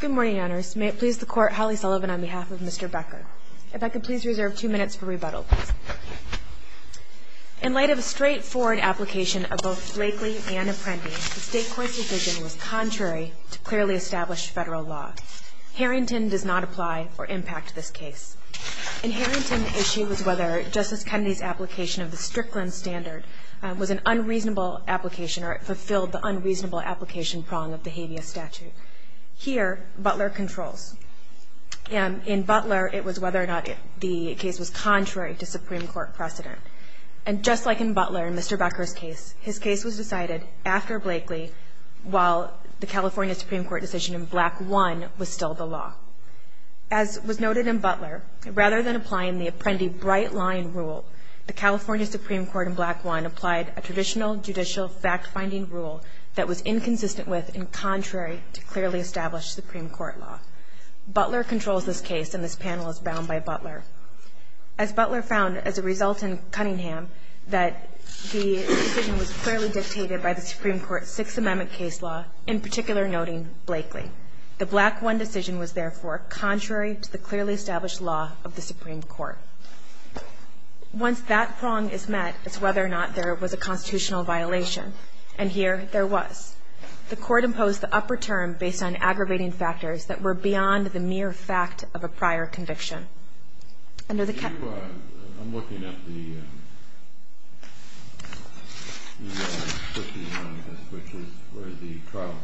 Good morning, Your Honors. May it please the Court, Holly Sullivan on behalf of Mr. Becker. If I could please reserve two minutes for rebuttal, please. In light of a straightforward application of both Blakely and Apprendi, the State Court's decision was contrary to clearly established federal law. Harrington does not apply or impact this case. In Harrington, the issue was whether Justice Kennedy's application of the Strickland Standard was an unreasonable application or it fulfilled the unreasonable application prong of the habeas statute. Here, Butler controls. In Butler, it was whether or not the case was contrary to Supreme Court precedent. And just like in Butler, in Mr. Becker's case, his case was decided after Blakely while the California Supreme Court decision in Black 1 was still the law. As was noted in Butler, rather than applying the Apprendi bright-line rule, the California Supreme Court in Black 1 applied a traditional judicial fact-finding rule that was inconsistent with and contrary to clearly established Supreme Court law. Butler controls this case, and this panel is bound by Butler. As Butler found as a result in Cunningham that the decision was clearly dictated by the Supreme Court's Sixth Amendment case law, in particular noting Blakely. The Black 1 decision was, therefore, contrary to the clearly established law of the Supreme Court. Once that prong is met, it's whether or not there was a constitutional violation. And here, there was. The court imposed the upper term based on aggravating factors that were beyond the mere fact of a prior conviction. I'm looking at the where the trial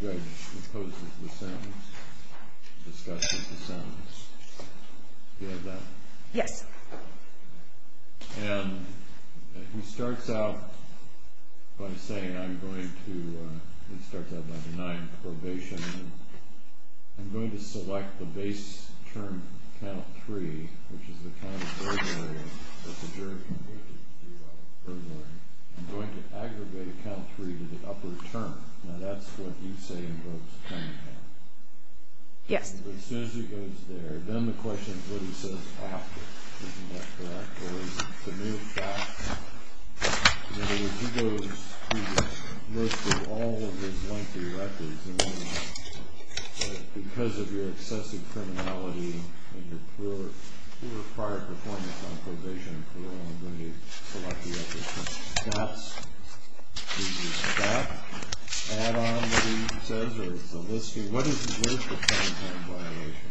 judge imposes the sentence. Do you have that? Yes. And he starts out by saying, I'm going to I'm going to select the base term, count three, which is the kind of burden that the jury can weight it to. I'm going to aggravate a count three to the upper term. Now that's what you say involves Cunningham. Yes. As soon as he goes there, then the he goes through most of all of his lengthy records because of your excessive criminality and your poor prior performance on probation and parole, I'm going to select the upper term. Is that an add-on, he says, or is it a listing? What is the Cunningham violation?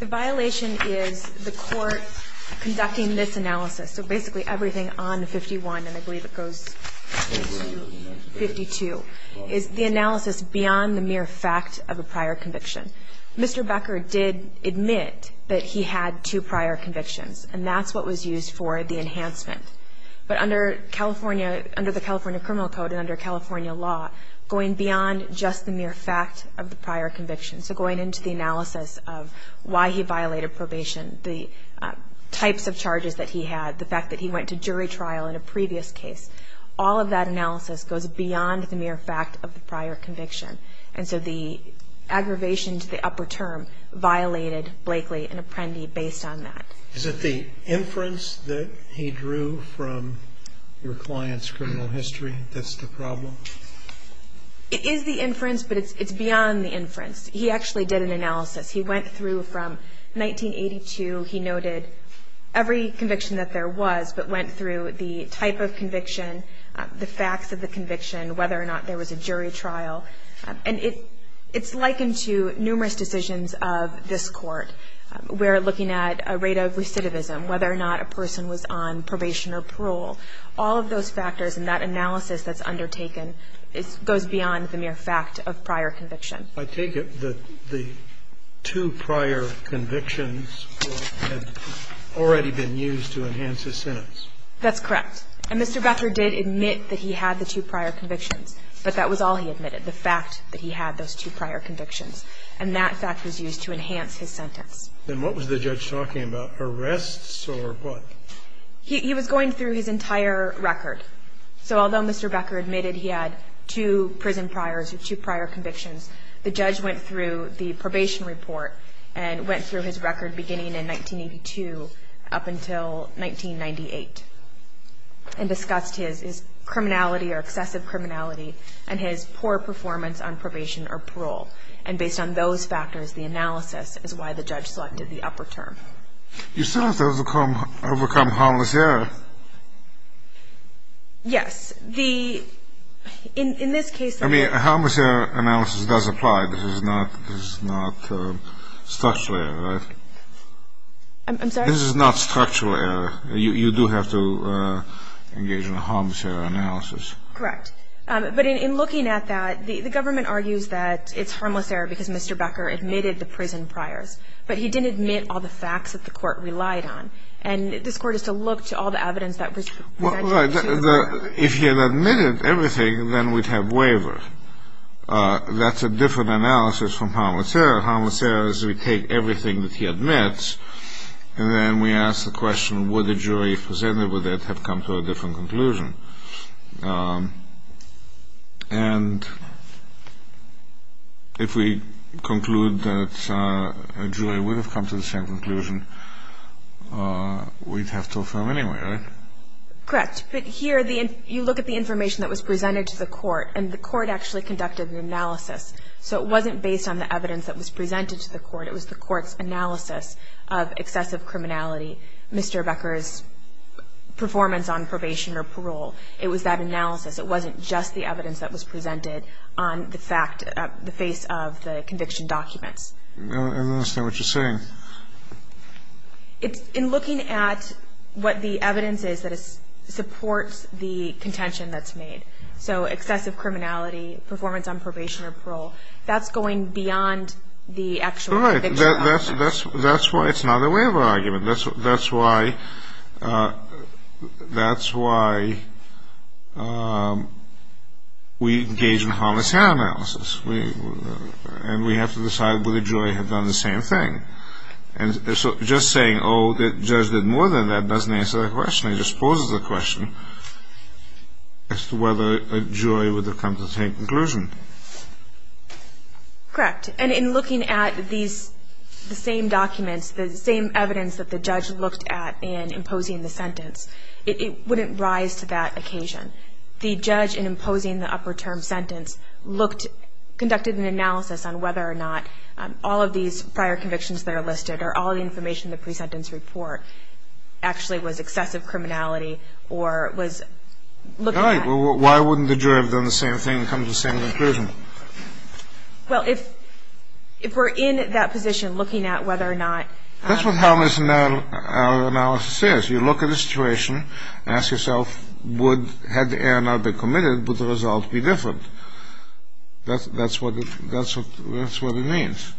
The violation is the court conducting this analysis, so basically everything on 51 and I believe it goes to 52, is the analysis beyond the mere fact of a prior conviction. Mr. Becker did admit that he had two prior convictions and that's what was used for the enhancement. But under California under the California Criminal Code and under California law, going beyond just the mere fact of the prior conviction, so going into the analysis of why he violated probation, the types of charges that he had, the fact that he went to jury trial in a previous case, all of that analysis goes beyond the mere fact of the prior conviction. And so the aggravation to the upper term violated Blakely and Apprendi based on that. Is it the inference that he drew from your client's criminal history that's the problem? It is the inference, but it's beyond the inference. He actually did an analysis. He went through from 1982, he noted every conviction that there was, but went through the type of conviction, the facts of the conviction, whether or not there was a jury trial. And it's likened to numerous decisions of this Court where looking at a rate of recidivism, whether or not a person was on probation or parole, all of those factors in that analysis that's undertaken goes beyond the mere fact of the prior conviction. So the two prior convictions had already been used to enhance his sentence? That's correct. And Mr. Becker did admit that he had the two prior convictions, but that was all he admitted, the fact that he had those two prior convictions. And that fact was used to enhance his sentence. And what was the judge talking about, arrests or what? He was going through his entire record. So although Mr. Becker admitted he had two prison priors or two prior convictions, the judge went through the probation report and went through his record beginning in 1982 up until 1998 and discussed his criminality or excessive criminality and his poor performance on probation or parole. And based on those factors, the analysis is why the judge selected the upper term. You still have to overcome harmless error. Yes. The – in this case – I mean, a harmless error analysis does apply. This is not structural error, right? I'm sorry? This is not structural error. You do have to engage in a harmless error analysis. Correct. But in looking at that, the government argues that it's harmless error because Mr. Becker admitted the prison priors, but he didn't admit all the facts that the court relied on. And this court has to look to all the evidence that was – Well, right. If he had admitted everything, then we'd have waiver. That's a different analysis from harmless error. Harmless error is we take everything that he admits, and then we ask the question, would the jury presented with it have come to a different conclusion? And if we conclude that a jury would have come to the same conclusion, we'd have to affirm anyway, right? Correct. But here, you look at the information that was presented to the court, and the court actually conducted an analysis. So it wasn't based on the evidence that was presented to the court. It was the court's analysis of excessive criminality, Mr. Becker's performance on probation or parole, It wasn't just the evidence that was presented on the face of the conviction documents. I don't understand what you're saying. In looking at what the evidence is that supports the contention that's made, so excessive criminality, performance on probation or parole, that's going beyond the actual conviction. That's why it's not a waiver argument. That's why we engage in a harmless error analysis. And we have to decide whether the jury had done the same thing. And so just saying, oh, the judge did more than that doesn't answer the question. It just poses a question as to whether a jury would have come to the same conclusion. Correct. And in looking at these, the same documents, the same evidence that the judge looked at in imposing the sentence, it wouldn't rise to that occasion. The judge, in imposing the upper term sentence, looked, conducted an analysis on whether or not all of these prior convictions that are listed or all the information in the pre-sentence report actually was excessive criminality or was looking at it. All right. Well, why wouldn't the jury have done the same thing and come to the same conclusion? Well, if we're in that position looking at whether or not... That's what harmless error analysis is. You look at a situation and ask yourself, had the error not been committed, would the result be different? That's what it means.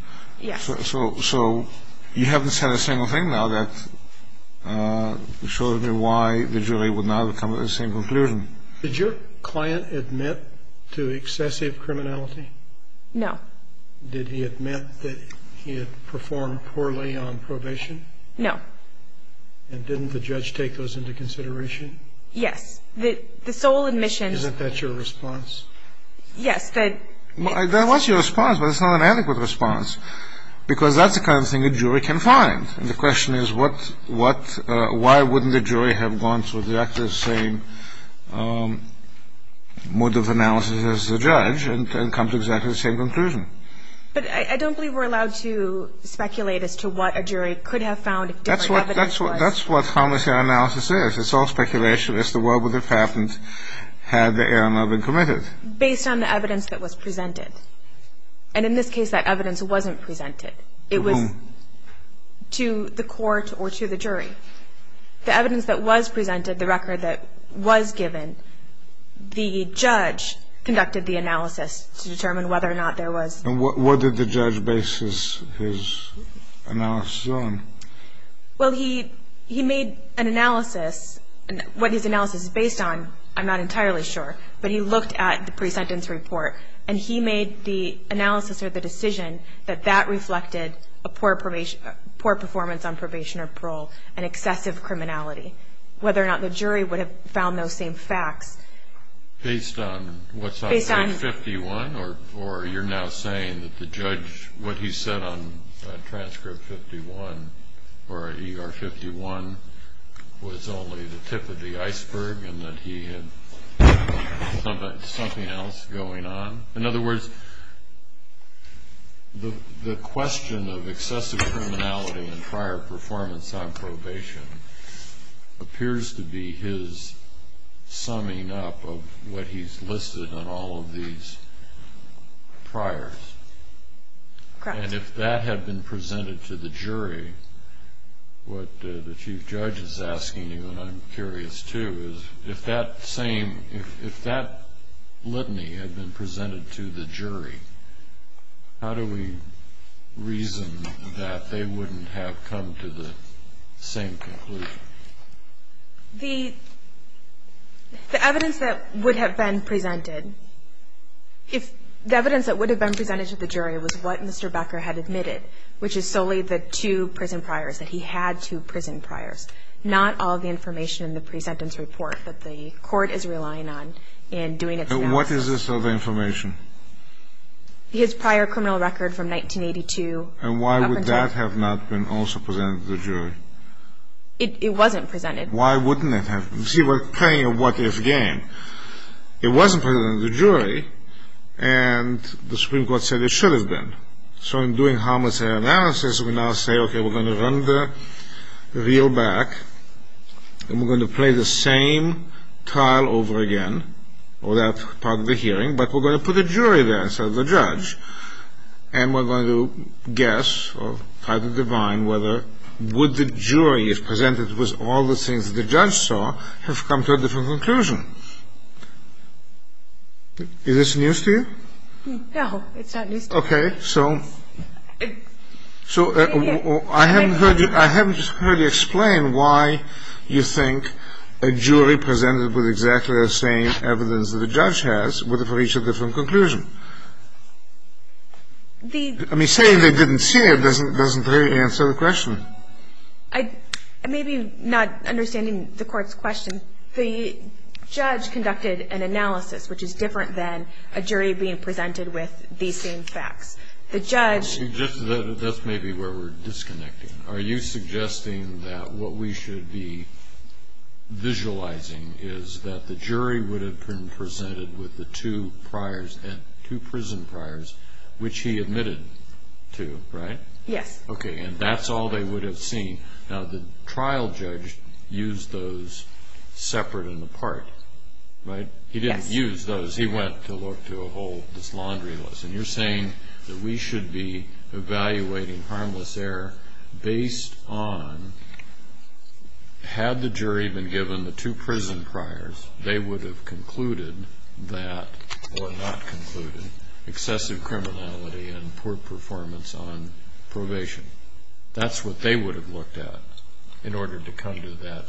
So you haven't said a single thing now that shows me why the jury would not have come to the same conclusion. Did your client admit to excessive criminality? No. Did he admit that he had performed poorly on probation? No. And didn't the judge take those into consideration? Yes. The sole admission... Isn't that your response? Yes. That was your response, but it's not an adequate response because that's the kind of thing a jury can find. And the question is, why wouldn't the jury have gone through exactly the same mode of analysis as the judge and come to exactly the same conclusion? But I don't believe we're allowed to speculate as to what a jury could have found if different evidence was... That's what harmless error analysis is. It's all speculation as to what would have happened had the error not been committed. Based on the evidence that was presented. And in this case, that evidence wasn't presented. To whom? To the court or to the jury. The evidence that was presented, the record that was given, the judge conducted the analysis to determine whether or not there was... And what did the judge base his analysis on? Well, he made an analysis... What his analysis is based on, I'm not entirely sure, but he looked at the pre-sentence report and he made the analysis or the decision that that reflected a poor performance on probation or parole and excessive criminality. Whether or not the jury would have found those same facts... Based on what's on transcript 51? Or you're now saying that the judge, what he said on transcript 51 or ER 51 was only the tip of the iceberg and that he had something else going on? In other words, the question of excessive criminality and prior performance on probation appears to be his summing up of what he's listed on all of these priors. What the Chief Judge is asking you, and I'm curious too, is if that same, if that litany had been presented to the jury, how do we reason that they wouldn't have come to the same conclusion? The evidence that would have been presented, if the evidence that would have been presented to the jury was what Mr. Becker had admitted, which is solely the two prison priors, that he had two prison priors, not all of the information in the presentence report that the court is relying on in doing its analysis. And what is this other information? His prior criminal record from 1982 up until... And why would that have not been also presented to the jury? It wasn't presented. Why wouldn't it have been? See, we're playing a what-if game. It wasn't presented to the jury, and the Supreme Court said it should have been. So in doing harmless error analysis, we now say, okay, we're going to run the reel back, and we're going to play the same trial over again, or that part of the hearing, but we're going to put a jury there instead of the judge, and we're going to guess or try to divine whether would the jury, if presented with all the things the judge saw, have come to a different conclusion? Is this news to you? No, it's not news to me. Okay. So I haven't heard you explain why you think a jury presented with exactly the same evidence that a judge has would have reached a different conclusion. I mean, saying they didn't see it doesn't really answer the question. Maybe not understanding the Court's question, the judge conducted an analysis which is different than a jury being presented with the same facts. That's maybe where we're disconnecting. Are you suggesting that what we should be visualizing is that the jury would have been presented with the two prison priors, which he admitted to, right? Yes. Okay, and that's all they would have seen. Now, the trial judge used those separate and apart, right? He didn't use those. He went to look to a whole dislaundry list. And you're saying that we should be evaluating harmless error based on, had the jury been given the two prison priors, they would have concluded that, or not concluded, excessive criminality and poor performance on probation. That's what they would have looked at in order to come to that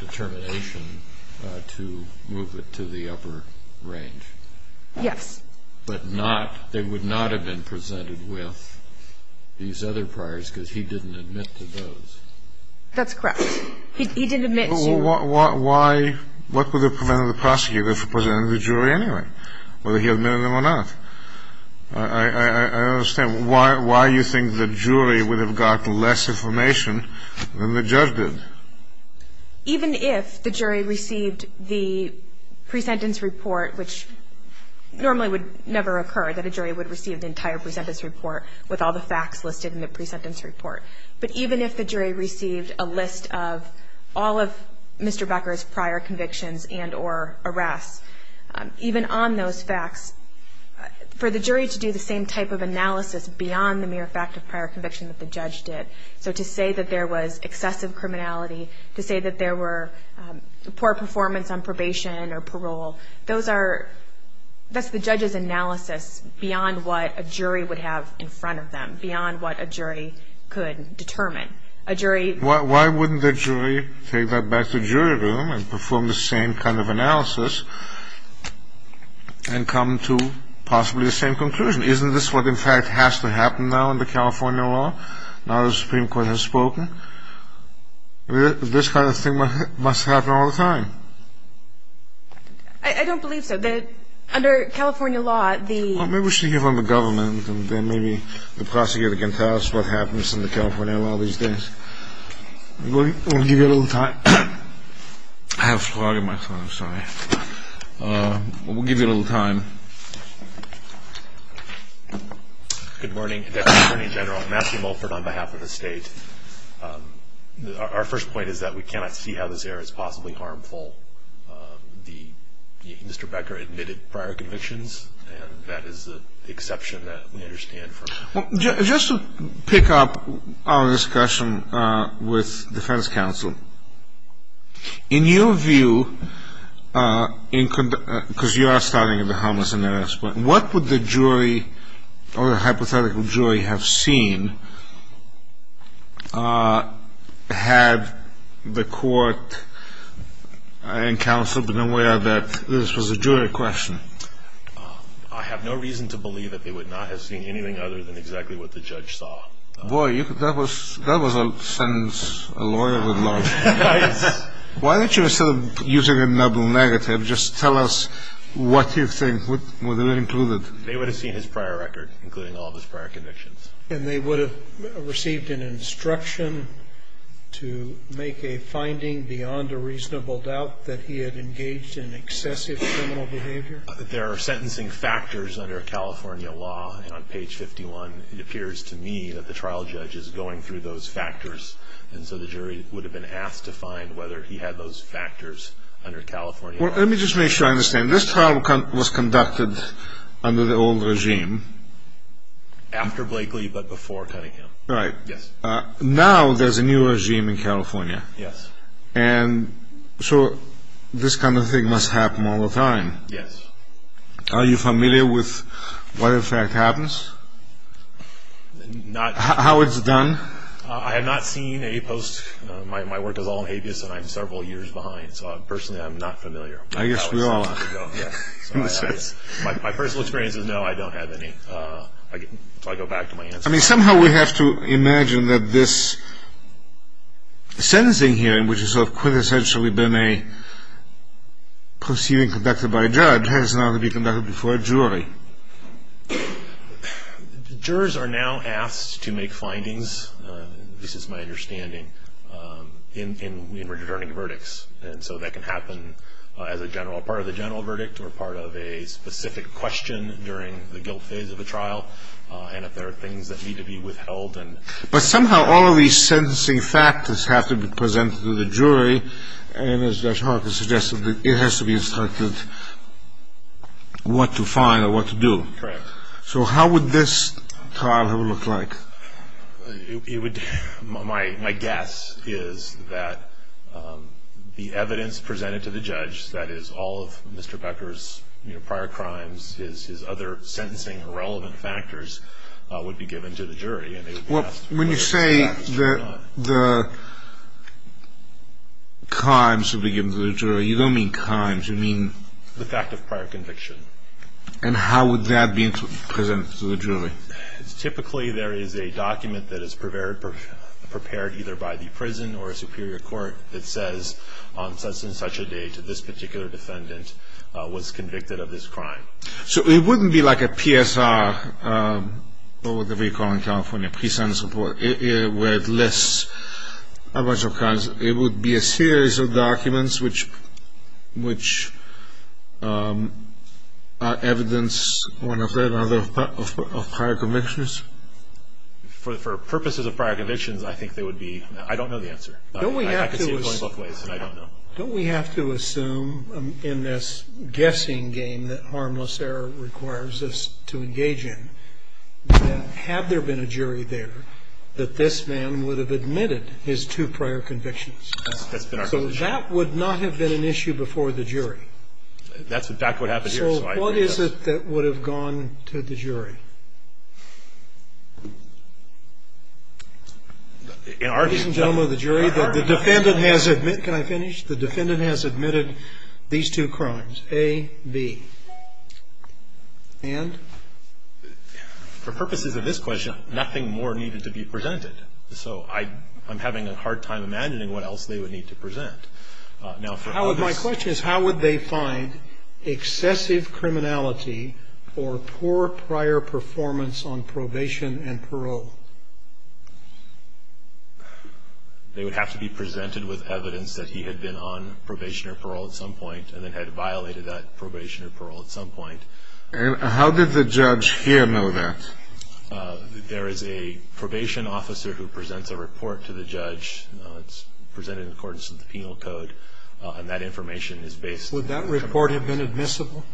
determination to move it to the upper range. Yes. But not, they would not have been presented with these other priors because he didn't admit to those. That's correct. He didn't admit to. Why, what would have prevented the prosecutor from presenting to the jury anyway, whether he admitted them or not? I don't understand. Why do you think the jury would have gotten less information than the judge did? Even if the jury received the pre-sentence report, which normally would never occur that a jury would receive the entire pre-sentence report with all the facts listed in the pre-sentence report. But even if the jury received a list of all of Mr. Becker's prior convictions and or arrests, even on those facts, for the jury to do the same type of analysis beyond the mere fact of prior conviction that the judge did. So to say that there was excessive criminality, to say that there were poor performance on probation or parole, those are, that's the judge's analysis beyond what a jury would have in front of them, beyond what a jury could determine. A jury. Why wouldn't the jury take that back to jury room and perform the same kind of analysis and come to possibly the same conclusion? Isn't this what in fact has to happen now in the California law? Now the Supreme Court has spoken. This kind of thing must happen all the time. I don't believe so. Under California law, the... Well, maybe we should hear from the government and then maybe the prosecutor can tell us what happens in the California law these days. We'll give you a little time. I have a slug in my throat, sorry. We'll give you a little time. Good morning, Deputy Attorney General. Matthew Mulford on behalf of the state. Our first point is that we cannot see how this error is possibly harmful. Mr. Becker admitted prior convictions, and that is the exception that we understand. Just to pick up on this question with defense counsel, in your view, because you are starting at the harmless and the rest, what would the jury or the hypothetical jury have seen had the court and counsel been aware that this was a jury question? I have no reason to believe that they would not have seen anything other than exactly what the judge saw. Boy, that was a sentence a lawyer would love. Why don't you, instead of using a double negative, just tell us what you think would have been included. They would have seen his prior record, including all of his prior convictions. And they would have received an instruction to make a finding beyond a reasonable doubt that he had engaged in excessive criminal behavior? There are sentencing factors under California law. And on page 51, it appears to me that the trial judge is going through those factors. And so the jury would have been asked to find whether he had those factors under California law. Well, let me just make sure I understand. This trial was conducted under the old regime. After Blakely, but before Cunningham. Right. Yes. Now there's a new regime in California. Yes. And so this kind of thing must happen all the time. Yes. Are you familiar with what, in fact, happens? Not. How it's done? I have not seen a post. My work is all in habeas, and I'm several years behind. So personally, I'm not familiar. I guess we all are. My personal experience is no, I don't have any. I'll go back to my answer. I mean, somehow we have to imagine that this sentencing hearing, which has sort of quintessentially been a proceeding conducted by a judge, has now to be conducted before a jury. Jurors are now asked to make findings, this is my understanding, in returning verdicts. And so that can happen as a part of the general verdict or part of a specific question during the guilt phase of a trial, and if there are things that need to be withheld. But somehow all of these sentencing factors have to be presented to the jury, and as Judge Hawkins suggested, it has to be instructed what to find or what to do. Correct. So how would this trial have looked like? My guess is that the evidence presented to the judge, that is all of Mr. Becker's prior crimes, his other sentencing or relevant factors, would be given to the jury. When you say the crimes would be given to the jury, you don't mean crimes, you mean? The fact of prior conviction. And how would that be presented to the jury? Typically there is a document that is prepared either by the prison or a superior court that says on such and such a day that this particular defendant was convicted of this crime. So it wouldn't be like a PSR, whatever you call it in California, where it lists a bunch of crimes. It would be a series of documents which are evidence of prior convictions? For purposes of prior convictions, I don't know the answer. I can see it going both ways, and I don't know. Don't we have to assume in this guessing game that harmless error requires us to engage in that had there been a jury there, that this man would have admitted his two prior convictions? So that would not have been an issue before the jury. That's exactly what happened here. So what is it that would have gone to the jury? Ladies and gentlemen of the jury, the defendant has admitted, can I finish? The defendant has admitted these two crimes, A, B. And? For purposes of this question, nothing more needed to be presented. So I'm having a hard time imagining what else they would need to present. Now for all this. My question is how would they find excessive criminality for poor prior performance on probation and parole? They would have to be presented with evidence that he had been on probation or parole at some point and then had violated that probation or parole at some point. And how did the judge here know that? There is a probation officer who presents a report to the judge. It's presented in accordance with the penal code, and that information is based. Would that report have been admissible?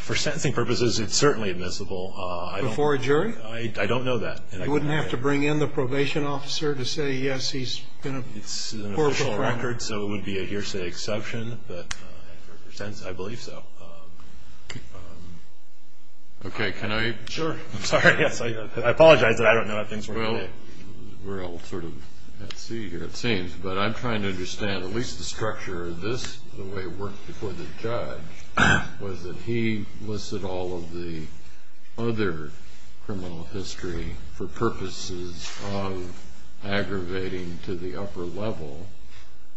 For sentencing purposes, it's certainly admissible. Before a jury? I don't know that. You wouldn't have to bring in the probation officer to say, yes, he's been a poor performer. It's an official record, so it would be a hearsay exception. But for sentencing, I believe so. Okay, can I? Sure. I'm sorry. I apologize that I don't know how things work. We're all sort of at sea here, it seems. But I'm trying to understand at least the structure of this, the way it worked before the judge, was that he listed all of the other criminal history for purposes of aggravating to the upper level,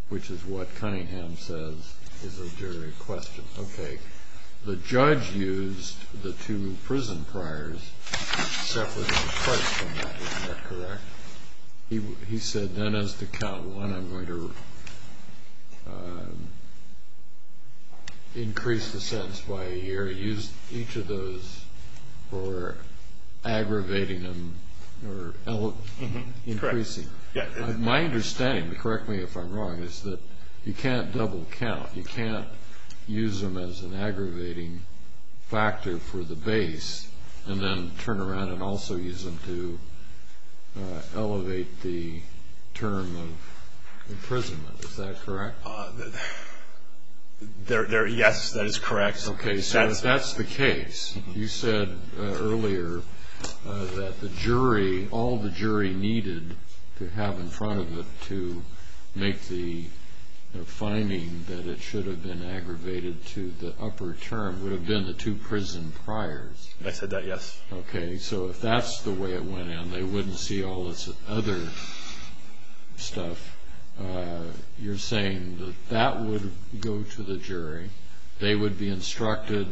which is what Cunningham says is a jury question. Okay. The judge used the two prison priors to separate the price from that. Is that correct? He said then as to count one, I'm going to increase the sentence by a year, use each of those for aggravating them or increasing. My understanding, correct me if I'm wrong, is that you can't double count. You can't use them as an aggravating factor for the base and then turn around and also use them to elevate the term of imprisonment. Is that correct? Yes, that is correct. Okay, so that's the case. You said earlier that the jury, all the jury needed to have in front of it to make the finding that it should have been aggravated to the upper term would have been the two prison priors. I said that, yes. Okay, so if that's the way it went and they wouldn't see all this other stuff, you're saying that that would go to the jury, they would be instructed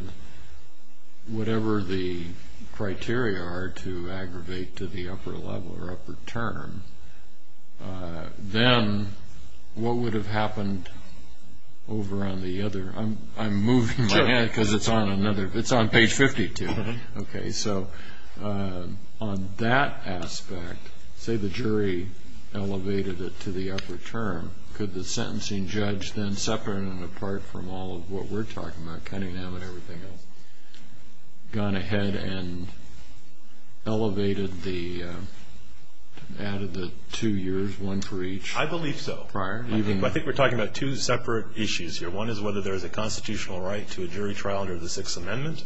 whatever the criteria are to aggravate to the upper level or upper term, then what would have happened over on the other? I'm moving my head because it's on another, it's on page 52. Okay, so on that aspect, say the jury elevated it to the upper term, could the sentencing judge then separate and apart from all of what we're talking about, gone ahead and elevated the, added the two years, one for each? I believe so. I think we're talking about two separate issues here. One is whether there is a constitutional right to a jury trial under the Sixth Amendment,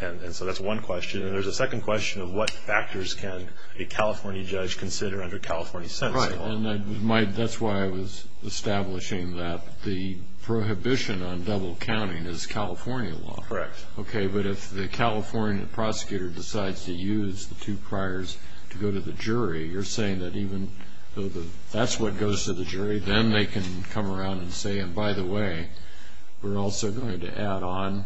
and so that's one question. And there's a second question of what factors can a California judge consider under California sentencing law. Right, and that's why I was establishing that the prohibition on double counting is California law. Correct. Okay, but if the California prosecutor decides to use the two priors to go to the jury, you're saying that even though that's what goes to the jury, then they can come around and say, and by the way, we're also going to add on,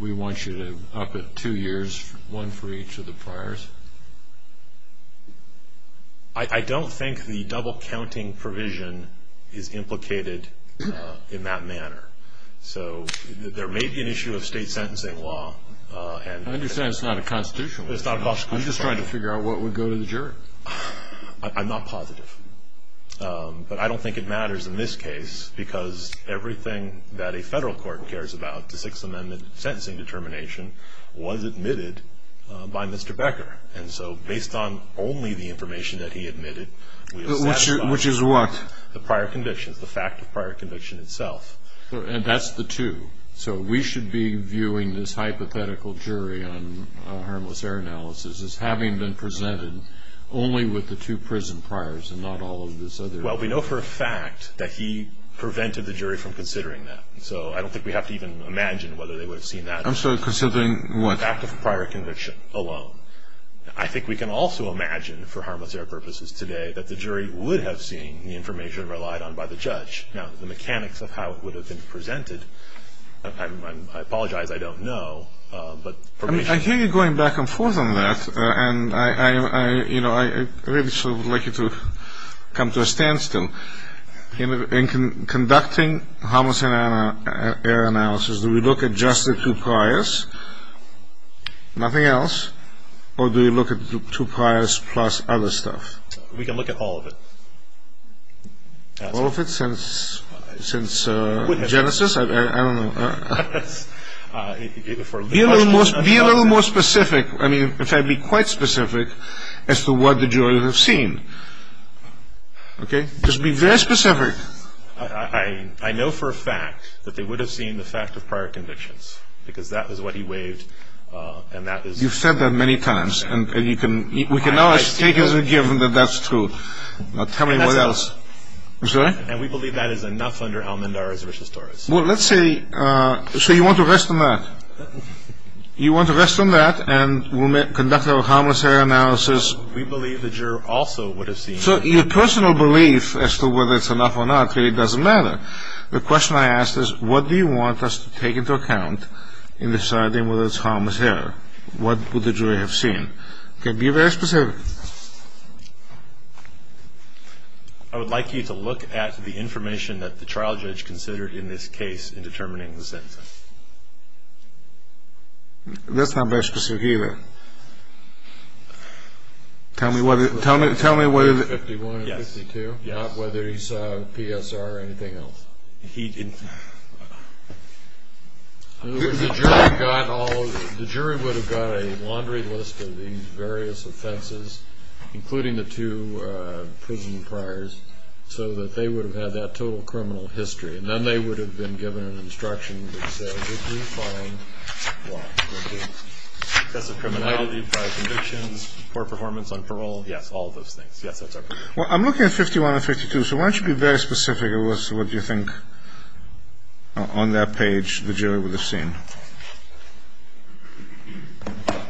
we want you to up it two years, one for each of the priors? I don't think the double counting provision is implicated in that manner. So there may be an issue of state sentencing law. I understand it's not a constitutional right. I'm just trying to figure out what would go to the jury. I'm not positive. But I don't think it matters in this case because everything that a federal court cares about, the Sixth Amendment sentencing determination, was admitted by Mr. Becker. And so based on only the information that he admitted, which is what? The prior convictions, the fact of prior conviction itself. And that's the two. So we should be viewing this hypothetical jury on harmless error analysis as having been presented only with the two prison priors and not all of this other. Well, we know for a fact that he prevented the jury from considering that. So I don't think we have to even imagine whether they would have seen that. I'm sorry, considering what? The fact of prior conviction alone. I think we can also imagine, for harmless error purposes today, that the jury would have seen the information relied on by the judge. Now, the mechanics of how it would have been presented, I apologize, I don't know. I hear you going back and forth on that, and I really would like you to come to a standstill. In conducting harmless error analysis, do we look at just the two priors, nothing else, or do we look at the two priors plus other stuff? We can look at all of it. All of it since Genesis? I don't know. Be a little more specific. I mean, in fact, be quite specific as to what the jury would have seen. Okay? Just be very specific. I know for a fact that they would have seen the fact of prior convictions, because that is what he waived, and that is... You've said that many times, and we can always take it as a given that that's true. Now, tell me what else. I'm sorry? And we believe that is enough under Al-Mandarra's v. Torres. Well, let's say, so you want to rest on that. You want to rest on that, and we'll conduct our harmless error analysis. We believe the juror also would have seen... So your personal belief as to whether it's enough or not really doesn't matter. The question I ask is, what do you want us to take into account in deciding whether it's harmless error? What would the jury have seen? Okay, be very specific. I would like you to look at the information that the trial judge considered in this case in determining the sentencing. That's not very specific either. Tell me whether... 51 and 52? Yes. Not whether he saw PSR or anything else? He didn't. In other words, the jury would have got a laundry list of these various offenses, including the two prison priors, so that they would have had that total criminal history, and then they would have been given an instruction that said, if you find... Excessive criminality, prior convictions, poor performance on parole, yes, all of those things. Yes, that's right. Well, I'm looking at 51 and 52, so why don't you be very specific as to what you think on that page the jury would have seen. Okay.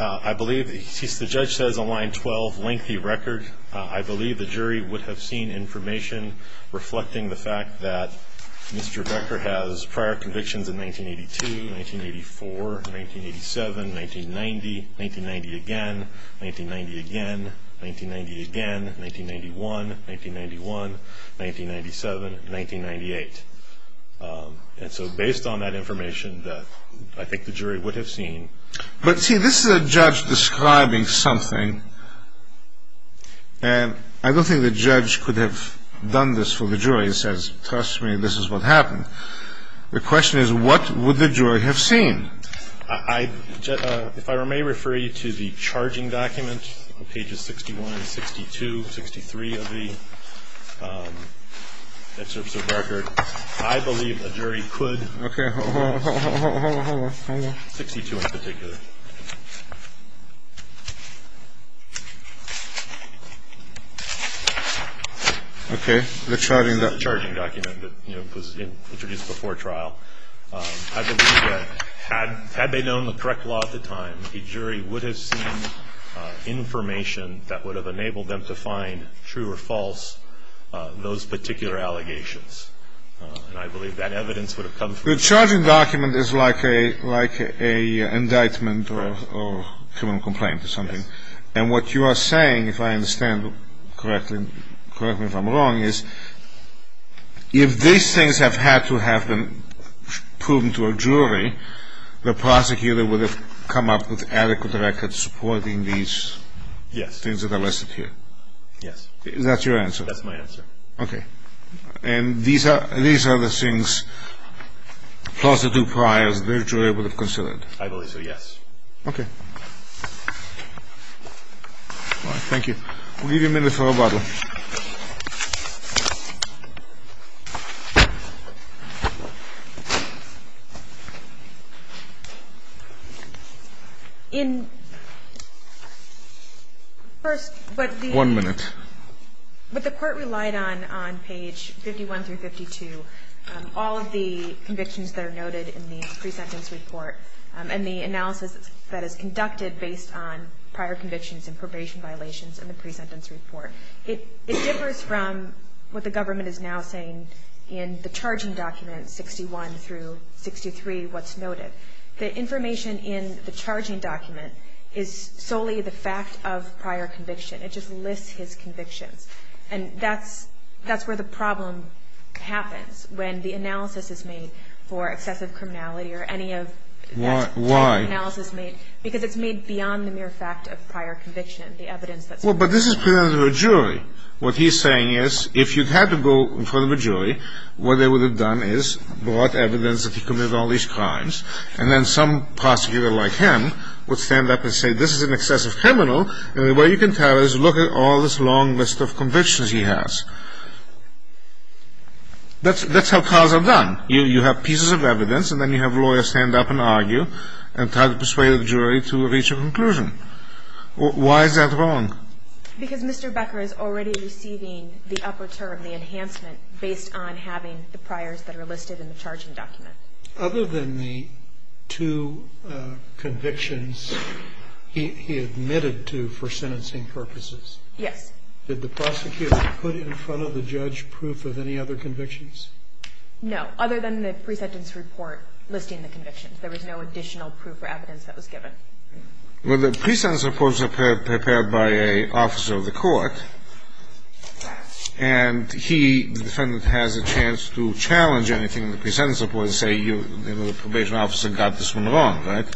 I believe... The judge says on line 12, lengthy record. I believe the jury would have seen information reflecting the fact that Mr. Becker has prior convictions in 1982, 1984, 1987, 1990, 1990 again, 1990 again, 1990 again, 1991, 1991, 1997, 1998. And so based on that information, I think the jury would have seen... But see, this is a judge describing something, and I don't think the judge could have done this for the jury. He says, trust me, this is what happened. The question is, what would the jury have seen? If I may refer you to the charging document on pages 61, 62, 63 of the excerpts of Becker, I believe a jury could... Okay, hold on, hold on, hold on. 62 in particular. Okay, the charging document. The charging document that was introduced before trial. I believe that had they known the correct law at the time, a jury would have seen information that would have enabled them to find true or false those particular allegations. And I believe that evidence would have come from... The charging document is like an indictment or a criminal complaint or something. Yes. And what you are saying, if I understand correctly, correct me if I'm wrong, is if these things have had to have been proven to a jury, the prosecutor would have come up with adequate records supporting these things that are listed here. Yes. Is that your answer? That's my answer. Okay. And these are the things, plus the two priors, the jury would have considered? I believe so, yes. Okay. All right, thank you. We'll give you a minute for rebuttal. First, but the... One minute. But the Court relied on, on page 51 through 52, all of the convictions that are noted in the pre-sentence report and the analysis that is conducted based on prior convictions and probation violations in the pre-sentence report. It differs from what the government is now saying in the charging documents, 61 through 63, what's noted. The information in the charging document is solely the fact of prior conviction. It just lists his convictions. And that's where the problem happens when the analysis is made for excessive criminality or any of that type of analysis made. Why? Well, but this is pre-sentence of a jury. What he's saying is if you had to go in front of a jury, what they would have done is brought evidence that he committed all these crimes, and then some prosecutor like him would stand up and say this is an excessive criminal, and the way you can tell is look at all this long list of convictions he has. That's how trials are done. You have pieces of evidence, and then you have lawyers stand up and argue and try to persuade the jury to reach a conclusion. Why is that wrong? Because Mr. Becker is already receiving the upper term, the enhancement, based on having the priors that are listed in the charging document. Other than the two convictions he admitted to for sentencing purposes? Yes. Did the prosecutor put in front of the judge proof of any other convictions? No. Other than the pre-sentence report listing the convictions. There was no additional proof or evidence that was given. Well, the pre-sentence reports are prepared by an officer of the court, and he, the defendant, has a chance to challenge anything in the pre-sentence report and say the probation officer got this one wrong, right?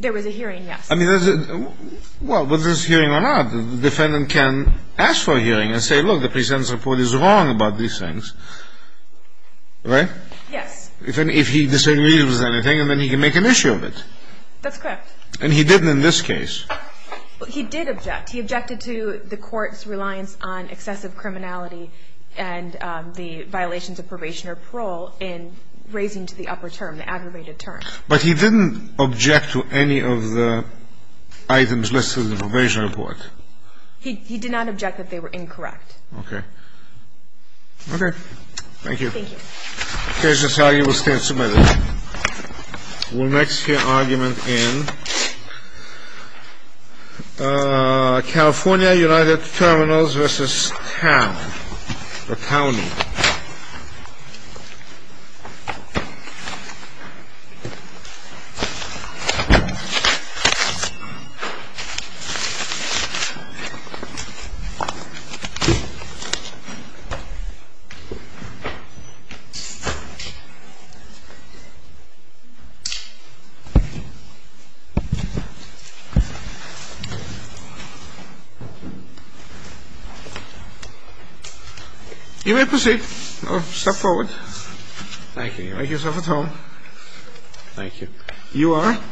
There was a hearing, yes. Well, whether there's a hearing or not, the defendant can ask for a hearing and say look, the pre-sentence report is wrong about these things, right? Yes. If he disagrees with anything, then he can make an issue of it. That's correct. And he didn't in this case. He did object. He objected to the court's reliance on excessive criminality and the violations of probation or parole in raising to the upper term, the aggravated term. But he didn't object to any of the items listed in the probation report. He did not object that they were incorrect. Okay. Okay. Thank you. Thank you. The case is argued. We'll stand two minutes. We'll next hear argument in California, United Terminals v. Town or County. You may proceed. Step forward. Thank you. Make yourself at home. Thank you. You are?